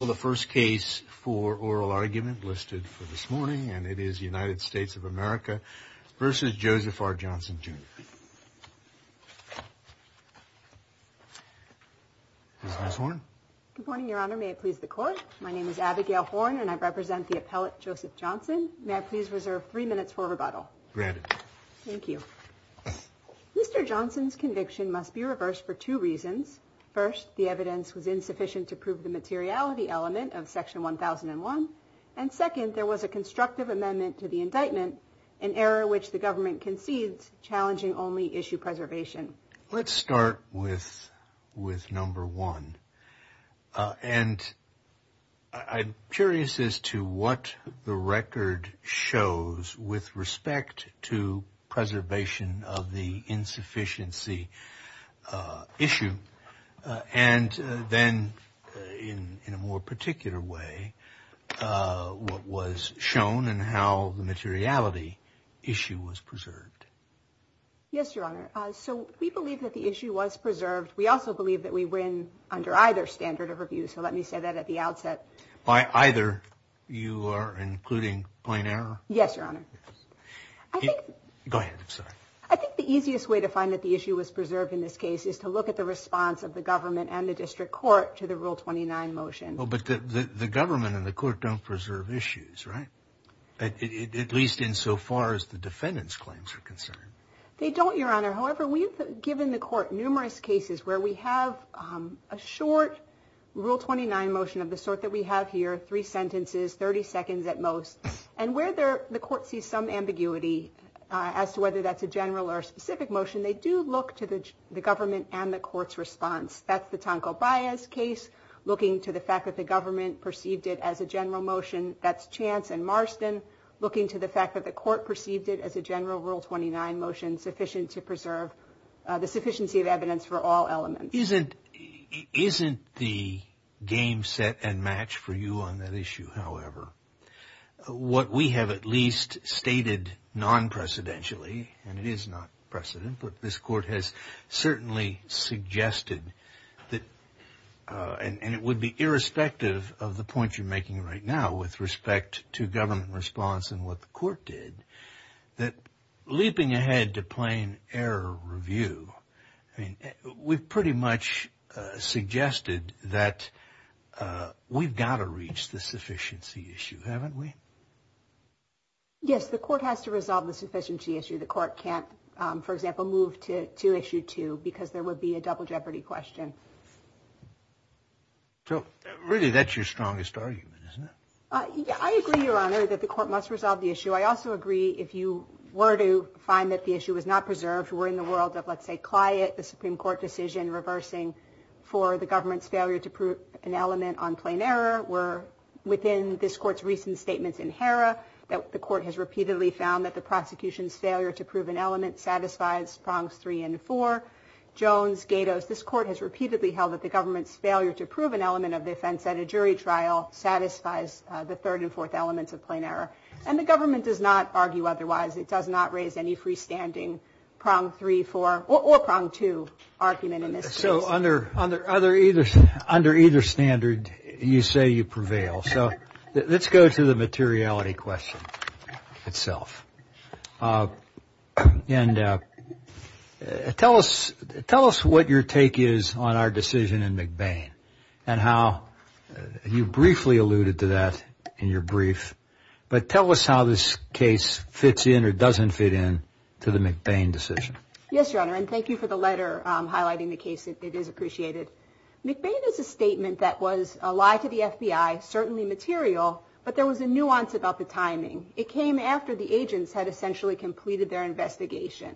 Well, the first case for oral argument listed for this morning, and it is United States of America versus Joseph R. Johnson, Jr. Ms. Horn. Good morning, Your Honor. May it please the court. My name is Abigail Horn and I represent the appellate Joseph Johnson. May I please reserve three minutes for rebuttal? Granted. Thank you. Mr. Johnson's conviction must be reversed for two reasons. First, the evidence was insufficient to prove the materiality element of Section 1001. And second, there was a constructive amendment to the indictment, an error which the government concedes challenging only issue preservation. Let's start with number one. And I'm curious as to what the record shows with respect to preservation of the insufficiency issue. And then in a more particular way, what was shown and how the materiality issue was preserved. Yes, Your Honor. So we believe that the issue was preserved. We also believe that we win under either standard of review. So let me say that at the outset. By either, you are including plain error? Yes, Your Honor. Go ahead. I think the easiest way to find that the issue was preserved in this case is to look at the response of the government and the district court to the Rule 29 motion. But the government and the court don't preserve issues, right? At least insofar as the defendant's claims are concerned. They don't, Your Honor. However, we've given the court numerous cases where we have a short Rule 29 motion of the sort that we have here. Three sentences, 30 seconds at most. And where the court sees some ambiguity as to whether that's a general or specific motion, they do look to the government and the court's response. That's the Tonko Bias case, looking to the fact that the government perceived it as a general motion. That's Chance and Marston, looking to the fact that the court perceived it as a general Rule 29 motion sufficient to preserve the sufficiency of evidence for all elements. Isn't isn't the game set and match for you on that issue, however? What we have at least stated non-precedentially, and it is not precedent, but this court has certainly suggested that and it would be irrespective of the point you're making right now with respect to government response and what the court did, that leaping ahead to plain error review, I mean, we've pretty much suggested that we've got to reach the sufficiency issue. Haven't we? Yes, the court has to resolve the sufficiency issue. The court can't, for example, move to issue two because there would be a double jeopardy question. So really, that's your strongest argument, isn't it? I agree, Your Honor, that the court must resolve the issue. I also agree. If you were to find that the issue was not preserved, we're in the world of, let's say, client, the Supreme Court decision reversing for the government's failure to prove an element on plain error. We're within this court's recent statements in HERA that the court has repeatedly found that the prosecution's failure to prove an element satisfies prongs three and four. Jones, Gatos, this court has repeatedly held that the government's failure to prove an element of the offense at a jury trial satisfies the third and fourth elements of plain error. And the government does not argue otherwise. It does not raise any freestanding prong three, four, or prong two argument in this case. So under either standard, you say you prevail. So let's go to the materiality question itself. And tell us what your take is on our decision in McBain and how you briefly alluded to that in your brief. But tell us how this case fits in or doesn't fit in to the McBain decision. Yes, Your Honor, and thank you for the letter highlighting the case. It is appreciated. McBain is a statement that was a lie to the FBI, certainly material, but there was a nuance about the timing. It came after the agents had essentially completed their investigation.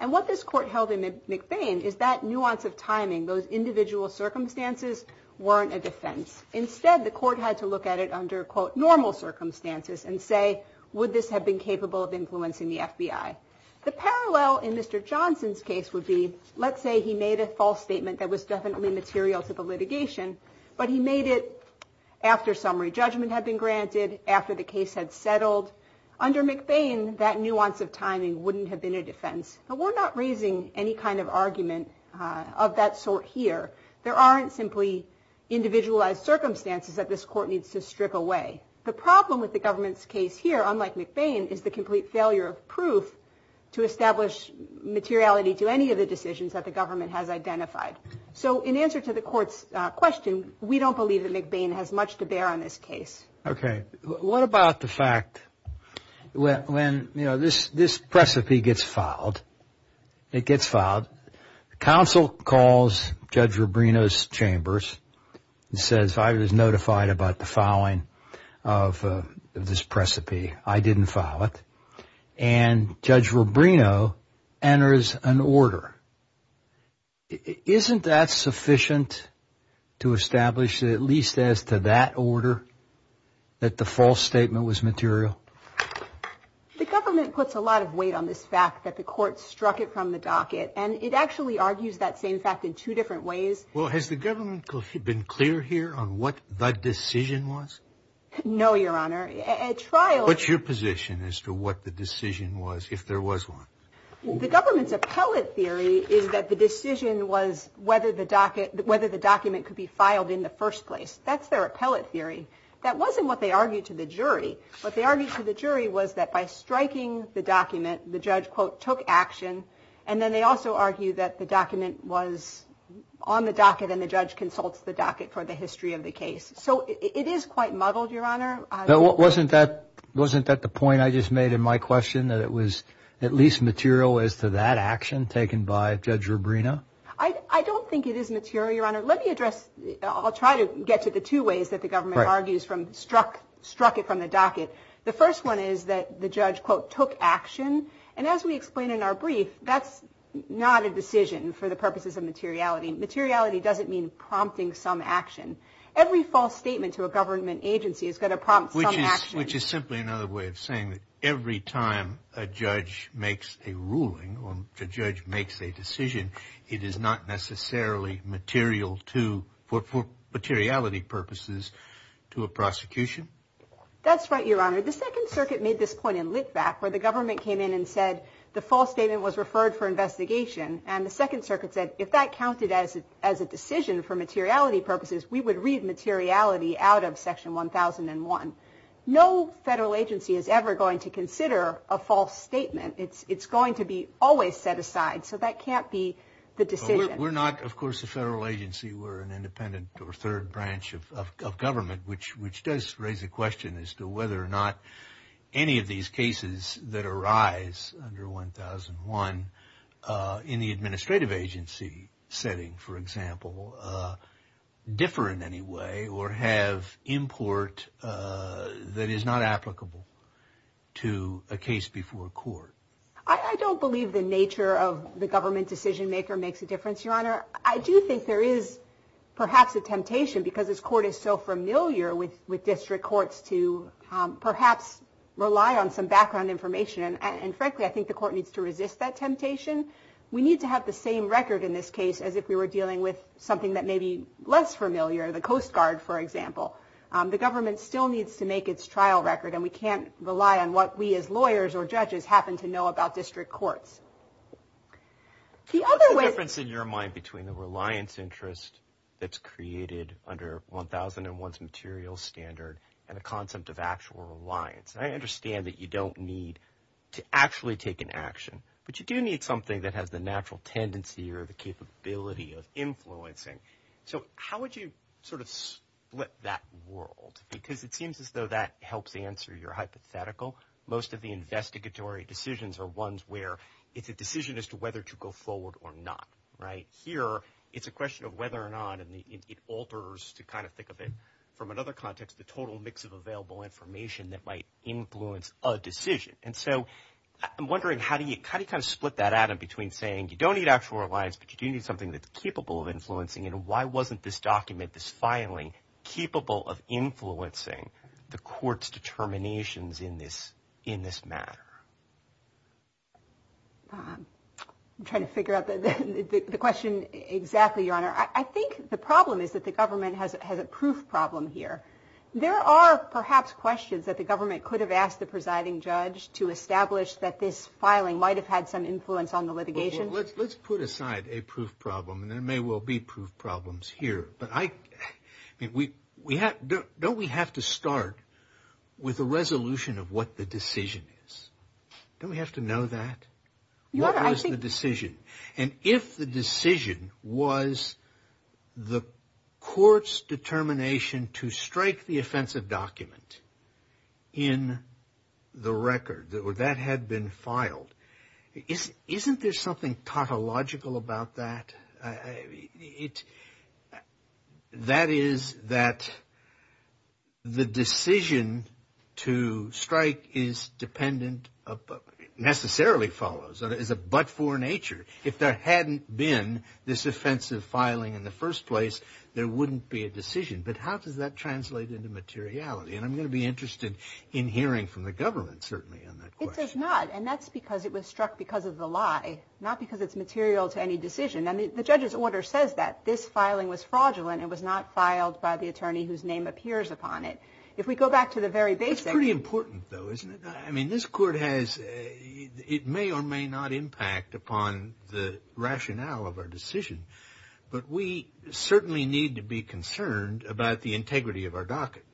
And what this court held in McBain is that nuance of timing. Those individual circumstances weren't a defense. Instead, the court had to look at it under, quote, normal circumstances and say, would this have been capable of influencing the FBI? The parallel in Mr. Johnson's case would be, let's say he made a false statement that was definitely material to the litigation, but he made it after summary judgment had been granted, after the case had settled. Under McBain, that nuance of timing wouldn't have been a defense. But we're not raising any kind of argument of that sort here. There aren't simply individualized circumstances that this court needs to strip away. The problem with the government's case here, unlike McBain, is the complete failure of proof to establish materiality to any of the decisions that the government has identified. So in answer to the court's question, we don't believe that McBain has much to bear on this case. OK, what about the fact when, you know, this this precipice gets filed, it gets filed. Counsel calls Judge Rubino's chambers and says, I was notified about the filing of this precipice. I didn't file it. And Judge Rubino enters an order. Isn't that sufficient to establish, at least as to that order, that the false statement was material? The government puts a lot of weight on this fact that the court struck it from the docket. And it actually argues that same fact in two different ways. Well, has the government been clear here on what the decision was? No, Your Honor. At trial. What's your position as to what the decision was, if there was one? The government's appellate theory is that the decision was whether the docket, whether the document could be filed in the first place. That's their appellate theory. That wasn't what they argued to the jury. What they argued to the jury was that by striking the document, the judge, quote, took action. And then they also argue that the document was on the docket and the judge consults the docket for the history of the case. So it is quite muddled, Your Honor. Wasn't that wasn't that the point I just made in my question, that it was at least material as to that action taken by Judge Rubino? Let me address. I'll try to get to the two ways that the government argues from struck, struck it from the docket. The first one is that the judge, quote, took action. And as we explain in our brief, that's not a decision for the purposes of materiality. Materiality doesn't mean prompting some action. Every false statement to a government agency is going to prompt which is simply another way of saying that every time a judge makes a ruling or the judge makes a decision, it is not necessarily material to for materiality purposes to a prosecution. That's right, Your Honor. The Second Circuit made this point in Litvak where the government came in and said the false statement was referred for investigation. And the Second Circuit said if that counted as a decision for materiality purposes, we would read materiality out of Section 1001. No federal agency is ever going to consider a false statement. It's going to be always set aside. So that can't be the decision. We're not, of course, a federal agency. We're an independent or third branch of government, which which does raise a question as to whether or not any of these cases that arise under 1001 in the administrative agency setting, for example, differ in any way or have import that is not applicable to a case before court. I don't believe the nature of the government decision maker makes a difference, Your Honor. I do think there is perhaps a temptation because this court is so familiar with with district courts to perhaps rely on some background information. And frankly, I think the court needs to resist that temptation. We need to have the same record in this case as if we were dealing with something that may be less familiar, the Coast Guard, for example. The government still needs to make its trial record, and we can't rely on what we as lawyers or judges happen to know about district courts. The other way. What's the difference in your mind between the reliance interest that's created under 1001's material standard and the concept of actual reliance? I understand that you don't need to actually take an action, but you do need something that has the natural tendency or the capability of influencing. So how would you sort of split that world? Because it seems as though that helps answer your hypothetical. Most of the investigatory decisions are ones where it's a decision as to whether to go forward or not. Right here. It's a question of whether or not it alters to kind of think of it from another context, the total mix of available information that might influence a decision. And so I'm wondering, how do you kind of split that out in between saying you don't need actual reliance, but you do need something that's capable of influencing? And why wasn't this document, this filing, capable of influencing the court's determinations in this in this matter? I'm trying to figure out the question exactly, Your Honor. I think the problem is that the government has a proof problem here. There are perhaps questions that the government could have asked the presiding judge to establish that this filing might have had some influence on the litigation. Let's put aside a proof problem and there may well be proof problems here. But I mean, don't we have to start with a resolution of what the decision is? Don't we have to know that? What was the decision? And if the decision was the court's determination to strike the offensive document in the record, that had been filed, isn't there something tautological about that? That is that the decision to strike is dependent, necessarily follows, is a but-for nature. If there hadn't been this offensive filing in the first place, there wouldn't be a decision. But how does that translate into materiality? And I'm going to be interested in hearing from the government, certainly, on that question. It does not. And that's because it was struck because of the lie, not because it's material to any decision. And the judge's order says that this filing was fraudulent. It was not filed by the attorney whose name appears upon it. If we go back to the very basic. It's pretty important, though, isn't it? I mean, this court has it may or may not impact upon the rationale of our decision, but we certainly need to be concerned about the integrity of our docket.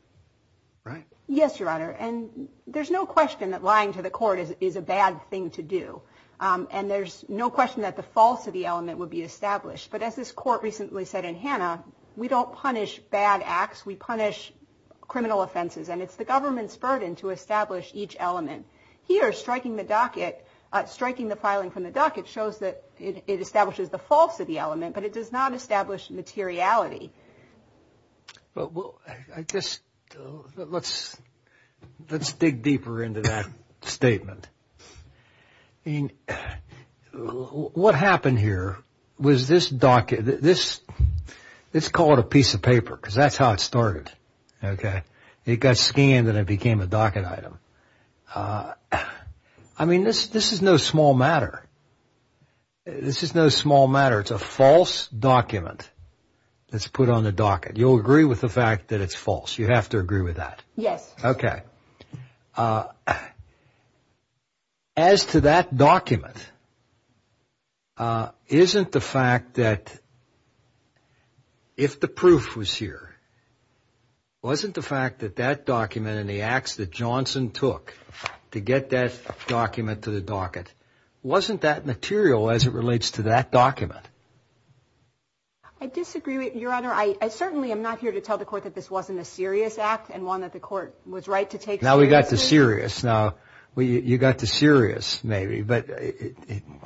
Right. Yes, Your Honor. And there's no question that lying to the court is a bad thing to do. And there's no question that the falsity element would be established. But as this court recently said in Hannah, we don't punish bad acts. We punish criminal offenses. And it's the government's burden to establish each element. Here, striking the docket, striking the filing from the docket shows that it establishes the falsity element, but it does not establish materiality. Well, I guess let's let's dig deeper into that statement in what happened here was this docket, this let's call it a piece of paper because that's how it started. OK, it got scanned and it became a docket item. I mean, this this is no small matter. This is no small matter. It's a false document. That's put on the docket. You'll agree with the fact that it's false. You have to agree with that. Yes. OK. As to that document. Isn't the fact that. If the proof was here. Wasn't the fact that that document and the acts that Johnson took to get that document to the docket, wasn't that material as it relates to that document? I disagree with your honor. I certainly am not here to tell the court that this wasn't a serious act and one that the court was right to take. Now we got the serious. Now you got the serious maybe. But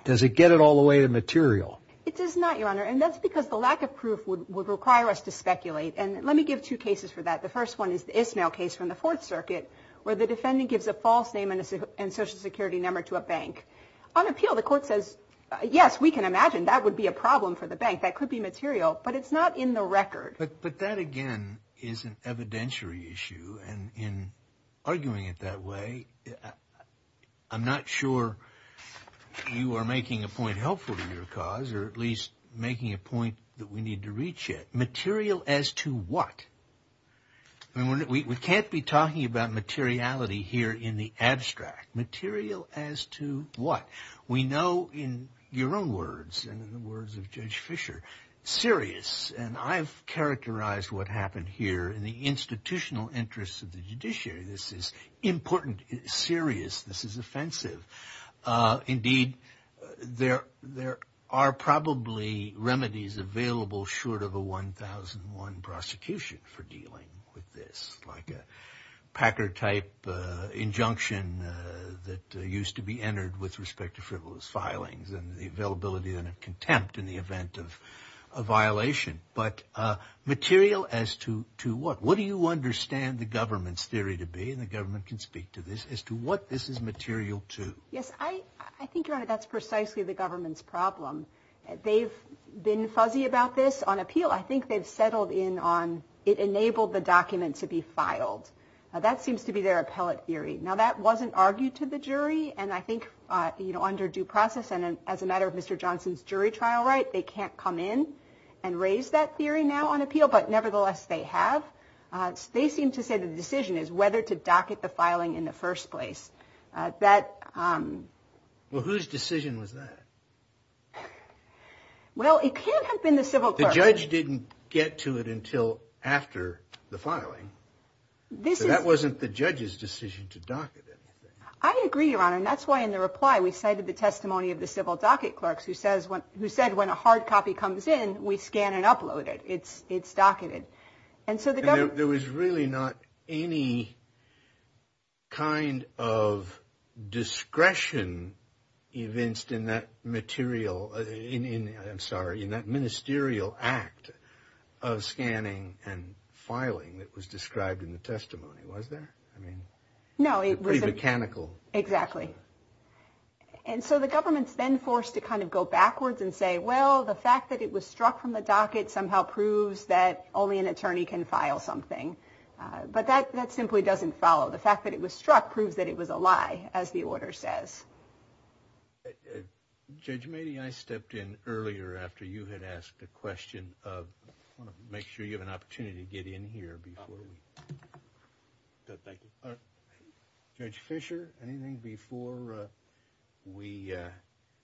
does it get it all the way to material? It does not, your honor. And that's because the lack of proof would require us to speculate. And let me give two cases for that. The first one is the Ismail case from the Fourth Circuit where the defendant gives a false name and a social security number to a bank on appeal. The court says, yes, we can imagine that would be a problem for the bank. That could be material, but it's not in the record. But that, again, is an evidentiary issue. And in arguing it that way, I'm not sure you are making a point helpful to your cause or at least making a point that we need to reach it material as to what? And we can't be talking about materiality here in the abstract material as to what we know in your own words and in the words of Judge Fisher. Serious. And I've characterized what happened here in the institutional interests of the judiciary. This is important. Serious. This is offensive. Indeed, there there are probably remedies available short of a 1001 prosecution for dealing with this, like a Packer type injunction that used to be entered with respect to frivolous filings and the availability of contempt in the event of a violation. But material as to to what? What do you understand the government's theory to be? And the government can speak to this as to what this is material to. Yes, I think that's precisely the government's problem. They've been fuzzy about this on appeal. I think they've settled in on it enabled the document to be filed. That seems to be their appellate theory. Now, that wasn't argued to the jury. And I think, you know, under due process and as a matter of Mr. Johnson's jury trial, right, they can't come in and raise that theory now on appeal. But nevertheless, they have. They seem to say the decision is whether to docket the filing in the first place. That was whose decision was that? Well, it can't have been the civil judge didn't get to it until after the filing. This wasn't the judge's decision to docket. I agree, Your Honor, and that's why in the reply we cited the testimony of the civil docket clerks who says what he said, when a hard copy comes in, we scan and upload it. It's it's docketed. And so there was really not any. Kind of discretion evinced in that material in I'm sorry, in that ministerial act of scanning and filing that was described in the testimony, was there? I mean, no, it was a mechanical. Exactly. And so the government's then forced to kind of go backwards and say, well, the fact that it was struck from the docket somehow proves that only an attorney can file something. But that that simply doesn't follow. The fact that it was struck proves that it was a lie, as the order says. Judge, maybe I stepped in earlier after you had asked a question of make sure you have an opportunity to get in here before. And thank you, Judge Fisher. Anything before we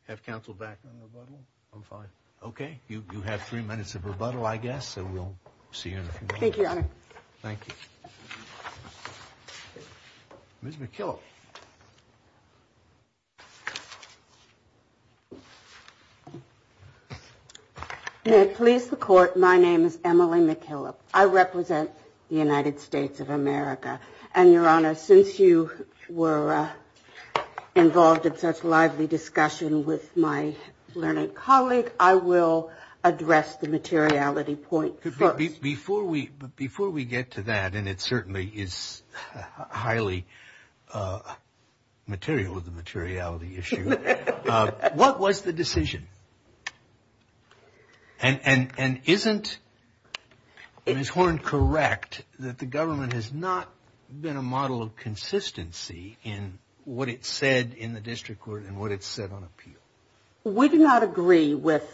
have counsel back on the bottle? I'm fine. OK, you have three minutes of rebuttal, I guess. And we'll see you. Thank you, Your Honor. Thank you. Ms. McKillop. Please, the court. My name is Emily McKillop. I represent the United States of America. And Your Honor, since you were involved in such lively discussion with my learned colleague, I will address the materiality point. Before we before we get to that, and it certainly is highly material with the materiality issue. What was the decision? And isn't, is Horne correct that the government has not been a model of consistency in what it said in the district court and what it said on appeal? We do not agree with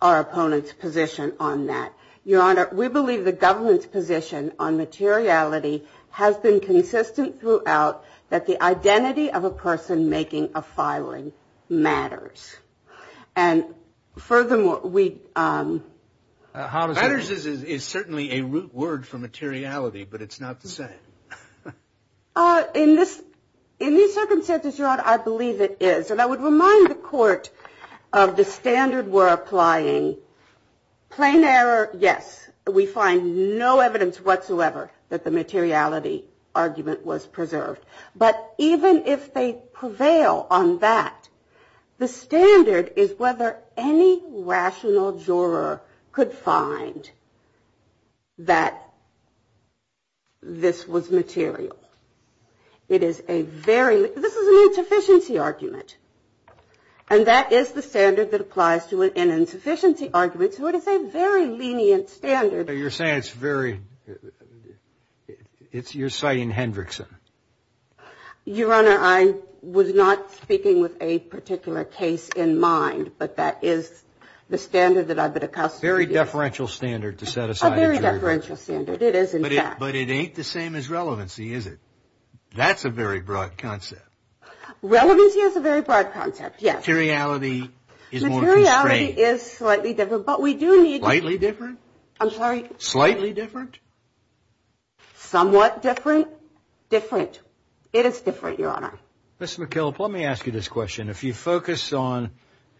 our opponent's position on that. Your Honor, we believe the government's position on materiality has been consistent throughout that the identity of a person making a filing matters. And furthermore, we. How does this is certainly a root word for materiality, but it's not the same. In this in these circumstances, Your Honor, I believe it is. And I would remind the court of the standard we're applying. Plain error, yes, we find no evidence whatsoever that the materiality argument was preserved. But even if they prevail on that, the standard is whether any rational juror could find. That. This was material, it is a very this is an insufficiency argument, and that is the standard that applies to an insufficiency argument, so it is a very lenient standard. You're saying it's very it's you're citing Hendrickson. Your Honor, I was not speaking with a particular case in mind, but that is the standard that I've been accustomed to very deferential standard to set aside a very differential standard. It is, but it ain't the same as relevancy, is it? That's a very broad concept. Relevancy is a very broad concept. Yes, reality is more. Reality is slightly different, but we do need lightly different. I'm sorry, slightly different. Somewhat different, different. It is different. Your Honor, Mr. McKillop, let me ask you this question. If you focus on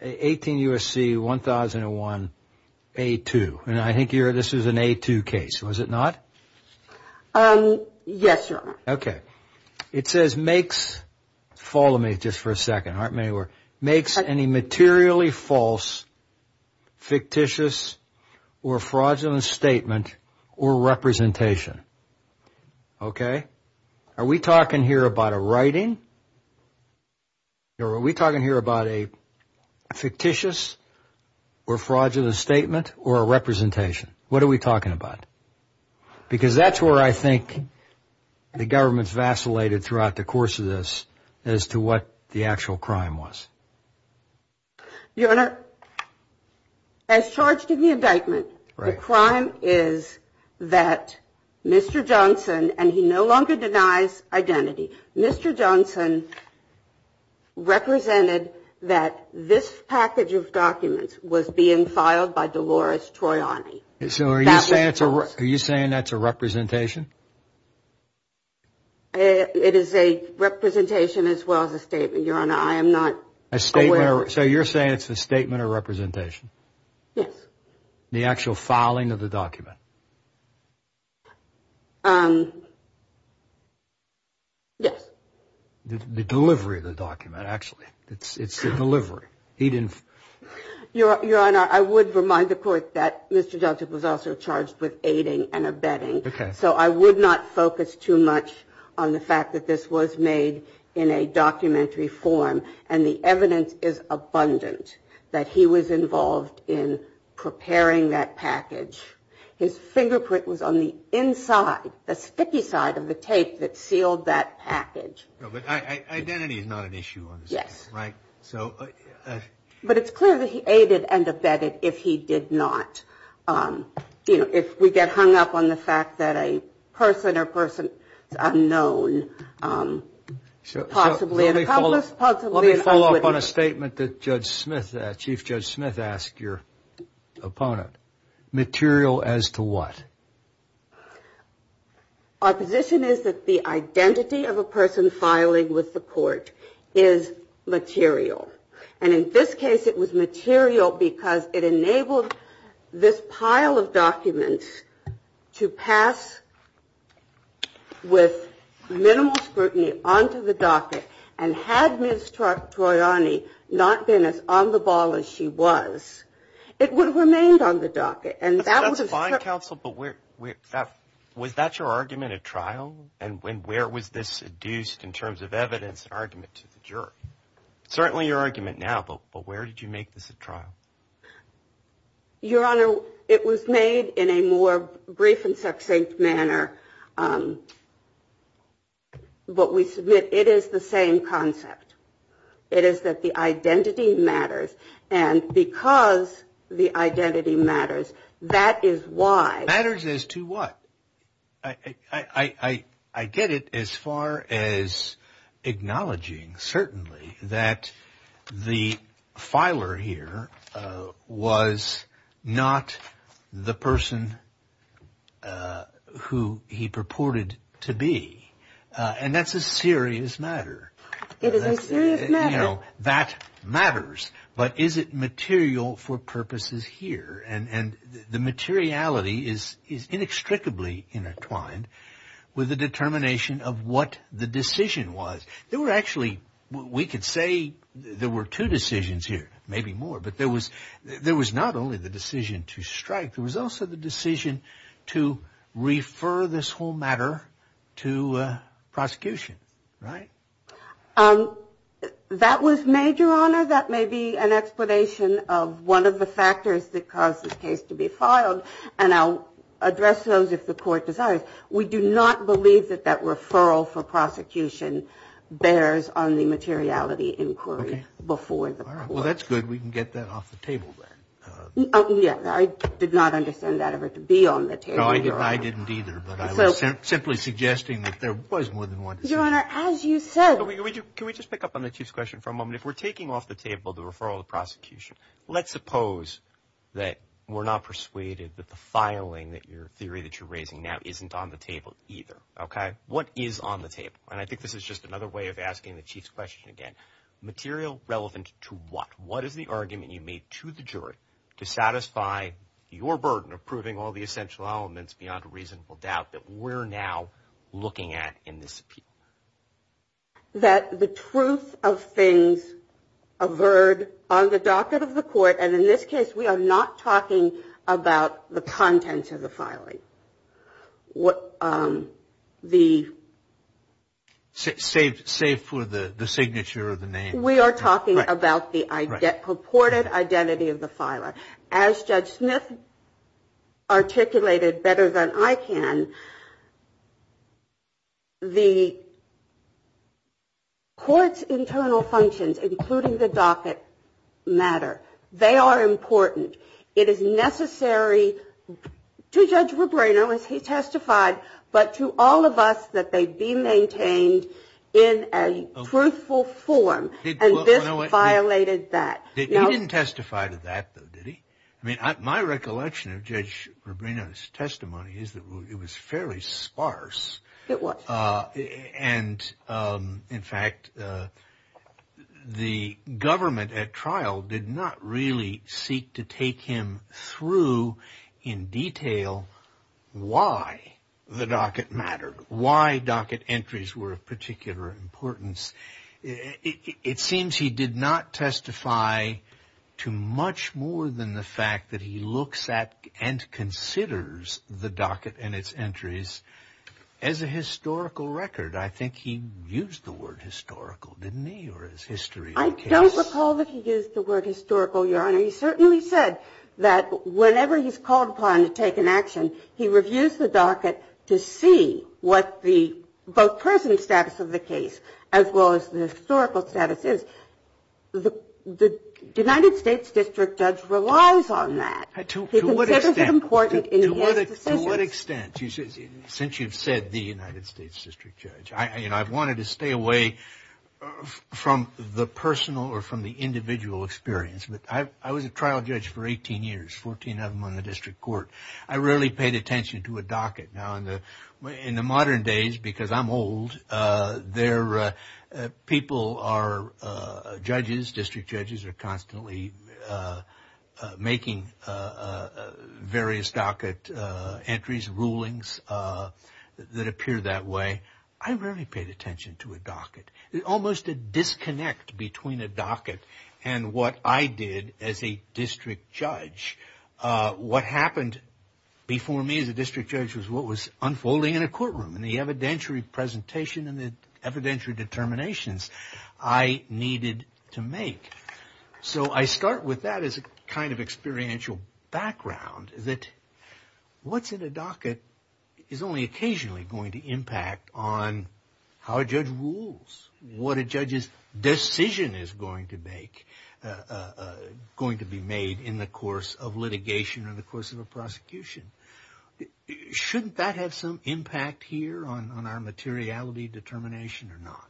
18 U.S.C. 1001 A2 and I think you're this is an A2 case, was it not? Yes, Your Honor. OK, it says makes follow me just for a second. Aren't many were makes any materially false. Fictitious or fraudulent statement or representation. OK, are we talking here about a writing? Are we talking here about a fictitious or fraudulent statement or a representation? What are we talking about? Because that's where I think the government's vacillated throughout the course of this as to what the actual crime was. Your Honor. As charged in the indictment, the crime is that Mr. Johnson and he no longer denies identity, Mr. Johnson. Represented that this package of documents was being filed by Dolores Troyani. So are you saying that's a representation? It is a representation as well as a statement, Your Honor, I am not aware. So you're saying it's a statement of representation. Yes. The actual filing of the document. Yes. The delivery of the document, actually, it's the delivery. He didn't. Your Honor, I would remind the court that Mr. Johnson was also charged with aiding and abetting. So I would not focus too much on the fact that this was made in a documentary form. And the evidence is abundant that he was involved in preparing that package. His fingerprint was on the inside, the sticky side of the tape that sealed that package. But identity is not an issue. Yes. Right. So. But it's clear that he aided and abetted if he did not. You know, if we get hung up on the fact that a person or person is unknown, possibly an accomplice. Let me follow up on a statement that Judge Smith, Chief Judge Smith, asked your opponent. Material as to what? Our position is that the identity of a person filing with the court is material. And in this case, it was material because it enabled this pile of documents to pass with minimal scrutiny onto the docket. And had Ms. Troiani not been as on the ball as she was, it would have remained on the docket. And that was a fine counsel. But where was that your argument at trial? And when where was this seduced in terms of evidence argument to the jury? Certainly your argument now. But where did you make this a trial? Your Honor, it was made in a more brief and succinct manner. But we submit it is the same concept. It is that the identity matters. And because the identity matters, that is why. Matters as to what? I get it as far as acknowledging certainly that the filer here was not the person who filed the case. He purported to be. And that's a serious matter. It is a serious matter. That matters. But is it material for purposes here? And the materiality is is inextricably intertwined with the determination of what the decision was. There were actually we could say there were two decisions here, maybe more. But there was there was not only the decision to strike. There was also the decision to refer this whole matter to prosecution. Right. That was made, Your Honor. That may be an explanation of one of the factors that caused the case to be filed. And I'll address those if the court decides. We do not believe that that referral for prosecution bears on the materiality inquiry before the court. We can get that off the table. Oh, yeah. I did not understand that ever to be on the table. No, I didn't either. But I was simply suggesting that there was more than one. Your Honor, as you said. Can we just pick up on the chief's question for a moment? If we're taking off the table, the referral to prosecution. Let's suppose that we're not persuaded that the filing that your theory that you're raising now isn't on the table either. OK, what is on the table? And I think this is just another way of asking the chief's question again. Material relevant to what? What is the argument you made to the jury to satisfy your burden of proving all the essential elements beyond a reasonable doubt that we're now looking at in this appeal? That the truth of things averred on the docket of the court, and in this case, we are not talking about the contents of the filing. What the. Save save for the signature of the name. We are talking about the purported identity of the filer, as Judge Smith. Articulated better than I can. The. Court's internal functions, including the docket matter, they are important. It is necessary to Judge Rebrano, as he testified, but to all of us that they be maintained in a truthful form. And this violated that. They didn't testify to that, though, did he? I mean, my recollection of Judge Rebrano's testimony is that it was fairly sparse. It was. And in fact, the government at trial did not really seek to take him through in detail why the docket mattered, why docket entries were of particular importance. It seems he did not testify to much more than the fact that he looks at and considers the docket and its entries as a historical record. I think he used the word historical, didn't he? Or is history? I don't recall that he used the word historical. Your Honor, he certainly said that whenever he's called upon to take an action, he reviews the docket to see what the both present status of the case. As well as the historical status is, the United States District Judge relies on that. To what extent? He considers it important in his decisions. To what extent? Since you've said the United States District Judge, you know, I've wanted to stay away from the personal or from the individual experience. But I was a trial judge for 18 years, 14 of them on the district court. I rarely paid attention to a docket. Now, in the modern days, because I'm old, people are judges, district judges are constantly making various docket entries, rulings that appear that way. I rarely paid attention to a docket. Almost a disconnect between a docket and what I did as a district judge. What happened before me as a district judge was what was unfolding in a courtroom. And the evidentiary presentation and the evidentiary determinations I needed to make. So I start with that as a kind of experiential background. That what's in a docket is only occasionally going to impact on how a judge rules, what a judge's decision is going to make, going to be made in the course of litigation or the course of a prosecution. Shouldn't that have some impact here on our materiality determination or not?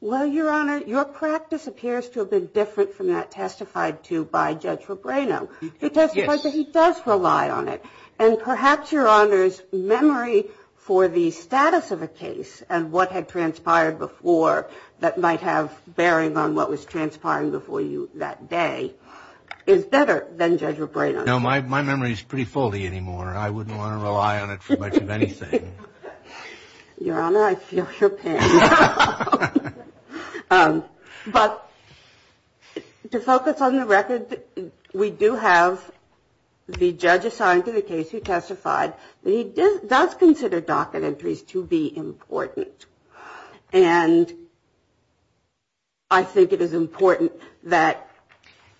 Well, Your Honor, your practice appears to have been different from that testified to by Judge Fabrano. It does, but he does rely on it. And perhaps, Your Honor's memory for the status of a case and what had transpired before that might have bearing on what was transpiring before you that day is better than Judge Fabrano's. No, my memory is pretty foldy anymore. I wouldn't want to rely on it for much of anything. Your Honor, I feel your pain. But to focus on the record, we do have the judge assigned to the case who testified. He does consider docket entries to be important. And I think it is important that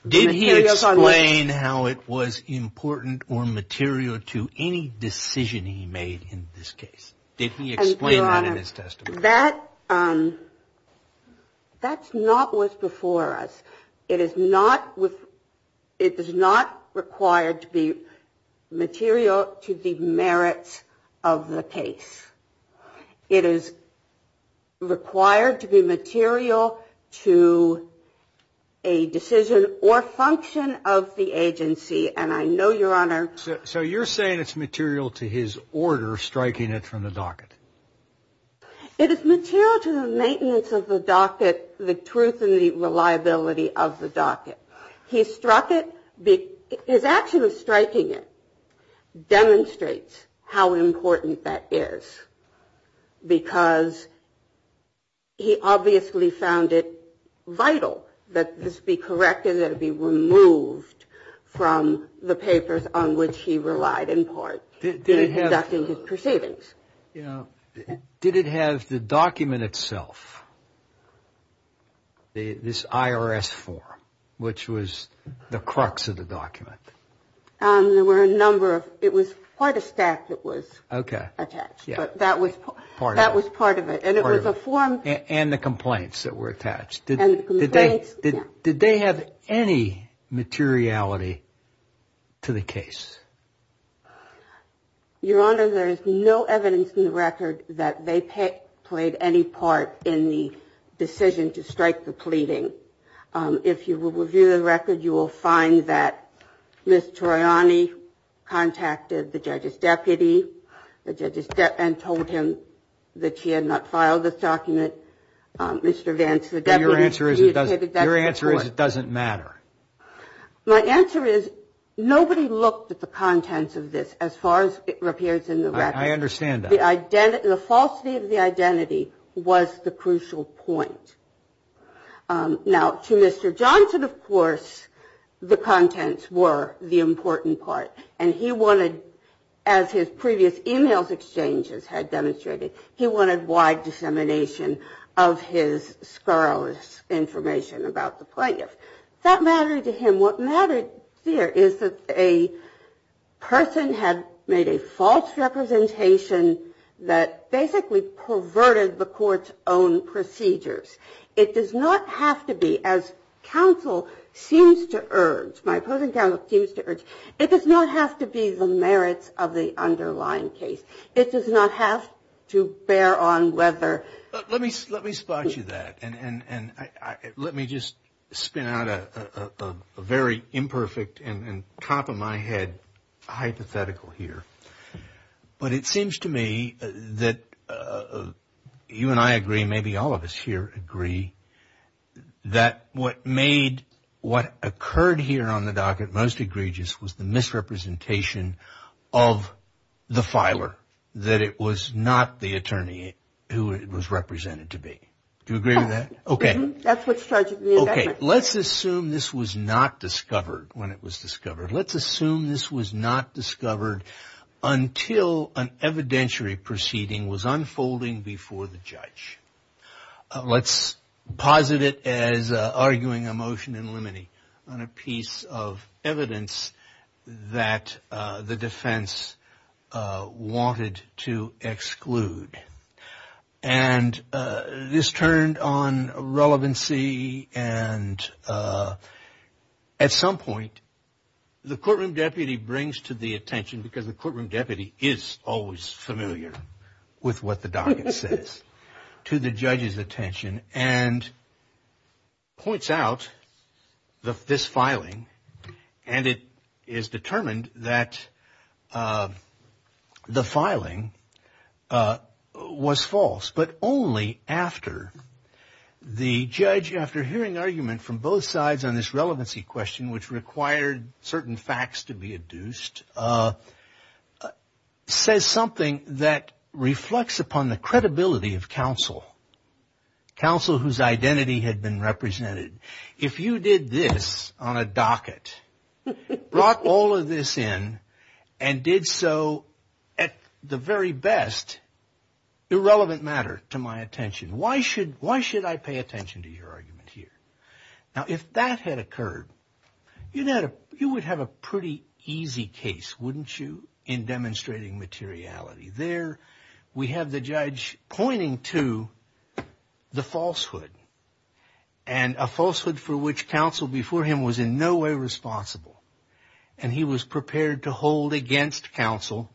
the materials on the record... Did he explain how it was important or material to any decision he made in this case? Did he explain that in his testimony? That, um, that's not what's before us. It is not with it is not required to be material to the merits of the case. It is required to be material to a decision or function of the agency. And I know, Your Honor. So you're saying it's material to his order striking it from the docket? It is material to the maintenance of the docket, the truth and the reliability of the docket. He struck it... His action of striking it demonstrates how important that is because he obviously found it vital that this be corrected, that it be removed from the papers on which he relied in part in conducting his proceedings. You know, did it have the document itself? This IRS form, which was the crux of the document. There were a number of... It was quite a stack that was attached, but that was part of it. And it was a form... And the complaints that were attached. And the complaints, yeah. Did they have any materiality to the case? Your Honor, there is no evidence in the record that they played any part in the decision to strike the pleading. If you will review the record, you will find that Ms. Toriani contacted the judge's deputy and told him that she had not filed this document. Mr. Vance, the deputy... But your answer is it doesn't matter. My answer is nobody looked at the contents of this as far as it appears in the record. I understand that. The falsity of the identity was the crucial point. Now, to Mr. Johnson, of course, the contents were the important part. And he wanted, as his previous e-mails exchanges had demonstrated, he wanted wide dissemination of his scurrilous information about the plaintiff. That mattered to him. What mattered here is that a person had made a false representation that basically perverted the court's own procedures. It does not have to be, as counsel seems to urge, my opposing counsel seems to urge, it does not have to be the merits of the underlying case. It does not have to bear on whether... Let me spot you that. And let me just spin out a very imperfect and top of my head hypothetical here. But it seems to me that you and I agree, maybe all of us here agree, that what made what occurred here on the docket most egregious was the misrepresentation of the filer, that it was not the attorney who it was represented to be. Do you agree with that? Okay. That's what started the event. Okay. Let's assume this was not discovered when it was discovered. Let's assume this was not discovered until an evidentiary proceeding was unfolding before the judge. Let's posit it as arguing a motion in limine on a piece of evidence that the defense wanted to exclude. And this turned on relevancy and, at some point, the courtroom deputy brings to the attention, because the courtroom deputy is always familiar with what the docket says, to the judge's attention and points out this filing. And it is determined that the filing was false, but only after the judge, after hearing argument from both sides on this relevancy question, which required certain facts to be adduced, says something that reflects upon the credibility of counsel, counsel whose identity had been represented. If you did this on a docket, brought all of this in, and did so at the very best, irrelevant matter to my attention, why should I pay attention to your argument here? Now, if that had occurred, you would have a pretty easy case, wouldn't you, in demonstrating materiality. There we have the judge pointing to the falsehood, and a falsehood for which counsel before him was in no way responsible, and he was prepared to hold against counsel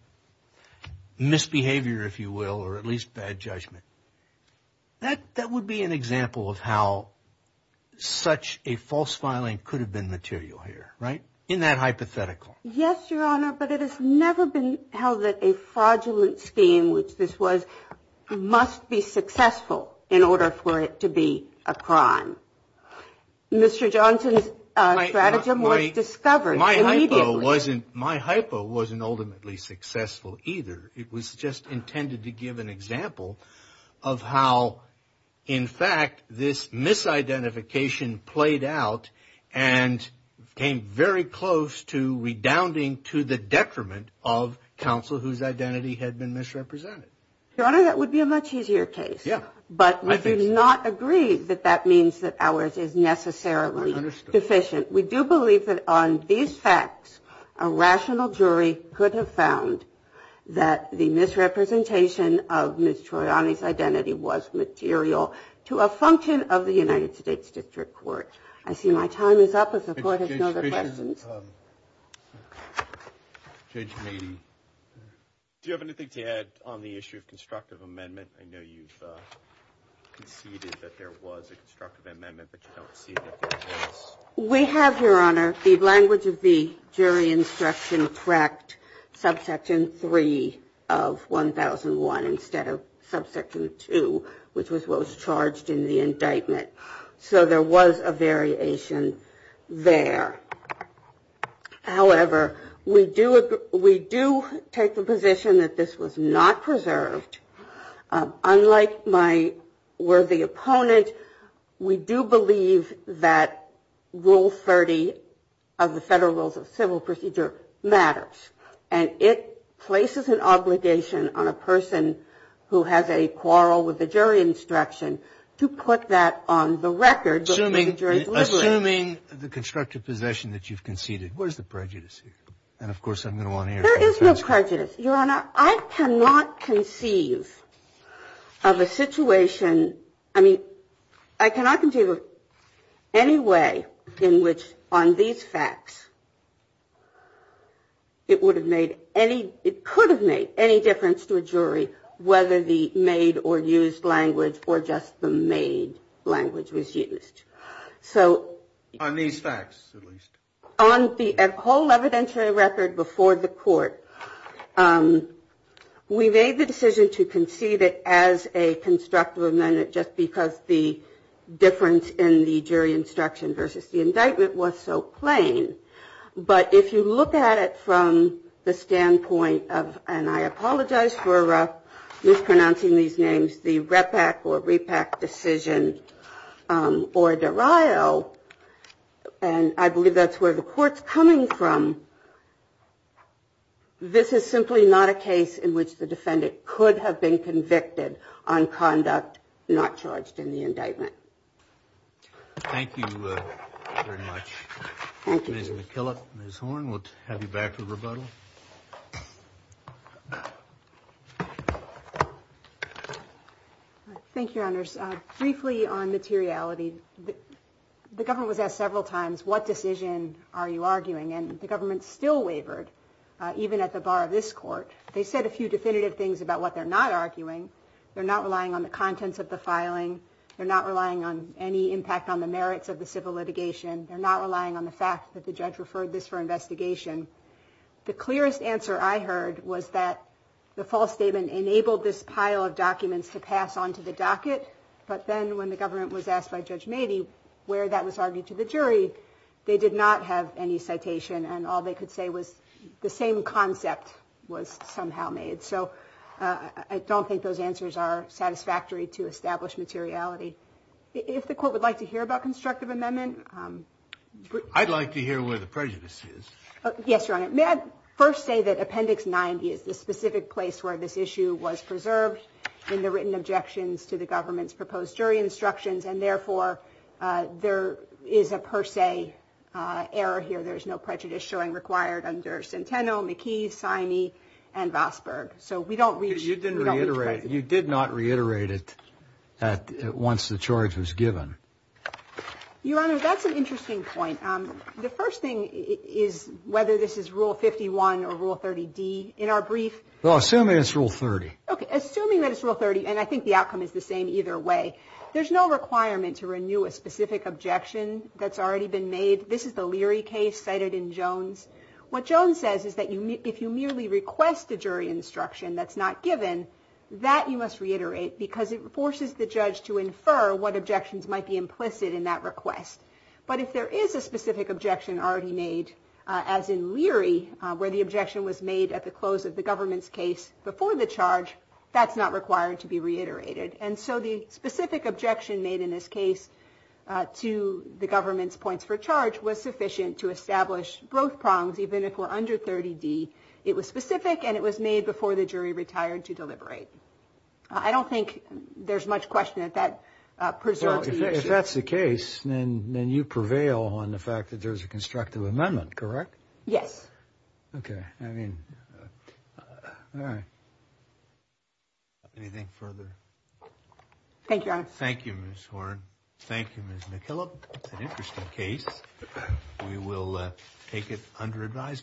misbehavior, if you will, or at least bad judgment. That would be an example of how such a false filing could have been material here, right, in that hypothetical. Yes, Your Honor, but it has never been held that a fraudulent scheme, which this was, must be successful in order for it to be a crime. Mr. Johnson's stratagem was discovered immediately. My hypo wasn't ultimately successful either. It was just intended to give an example of how, in fact, this misidentification played out and came very close to redounding to the detriment of counsel whose identity had been misrepresented. Your Honor, that would be a much easier case. But we do not agree that that means that ours is necessarily deficient. We do believe that on these facts, a rational jury could have found that the misrepresentation of Ms. Troiani's identity was material to a function of the United States District Court. I see my time is up, as the Court has no other questions. Judge Maney, do you have anything to add on the issue of constructive amendment? I know you've conceded that there was a constructive amendment, but you don't see that there is. We have, Your Honor, the language of the jury instruction correct, subsection 3 of 1001 instead of subsection 2, which was what was charged in the indictment. So there was a variation there. However, we do take the position that this was not preserved. Unlike my worthy opponent, we do believe that Rule 30 of the Federal Rules of Civil Procedure matters. And it places an obligation on a person who has a quarrel with the jury instruction to put that on the record. Assuming the constructive possession that you've conceded, where's the prejudice here? And of course, I'm going to want to hear from the defense court. Your Honor, I cannot conceive of a situation, I mean, I cannot conceive of any way in which on these facts, it would have made any, it could have made any difference to a jury whether the made or used language or just the made language was used. On these facts, at least. On the whole evidentiary record before the court, we made the decision to concede it as a constructive amendment, just because the difference in the jury instruction versus the indictment was so plain. But if you look at it from the standpoint of, and I apologize for mispronouncing these names, the Repack or Repack decision, or Derio, and I believe that's where the court's coming from, this is simply not a case in which the defendant could have been convicted on conduct not charged in the indictment. Thank you very much. Thank you. Ms. McKillop, Ms. Horne, we'll have you back for rebuttal. Thank you. Thank you, Your Honors. Briefly on materiality, the government was asked several times, what decision are you arguing? And the government still wavered, even at the bar of this court. They said a few definitive things about what they're not arguing. They're not relying on the contents of the filing. They're not relying on any impact on the merits of the civil litigation. They're not relying on the fact that the judge referred this for investigation. The clearest answer I heard was that the false statement enabled this pile of documents to pass onto the docket. But then when the government was asked by Judge Mady where that was argued to the jury, they did not have any citation and all they could say was the same concept was somehow made. So I don't think those answers are satisfactory to establish materiality. If the court would like to hear about constructive amendment... I'd like to hear where the prejudice is. Yes, Your Honor. May I first say that Appendix 90 is the specific place where this issue was preserved in the written objections to the government's proposed jury instructions and therefore there is a per se error here. There's no prejudice showing required under Centeno, McKee, Siney, and Vosburgh. You did not reiterate it once the charge was given. Your Honor, that's an interesting point. The first thing is whether this is Rule 51 or Rule 30D in our brief. Well, assuming it's Rule 30. Okay, assuming that it's Rule 30 and I think the outcome is the same either way. There's no requirement to renew a specific objection that's already been made. This is the Leary case cited in Jones. What Jones says is that if you merely request a jury instruction that's not given, that you must reiterate because it forces the judge to infer what objections might be implicit in that request. But if there is a specific objection already made, as in Leary, where the objection was made at the close of the government's case before the charge, that's not required to be reiterated. And so the specific objection made in this case to the government's points for charge was sufficient to establish both prongs, even if we're under 30D. It was specific and it was made before the jury retired to deliberate. I don't think there's much question that that preserves the issue. Well, if that's the case, then you prevail on the fact that there's a constructive amendment, correct? Yes. Okay. I mean, all right. Anything further? Thank you, Your Honor. Thank you, Ms. Horne. Thank you, Ms. McKillop. It's an interesting case. We will take it under advisement.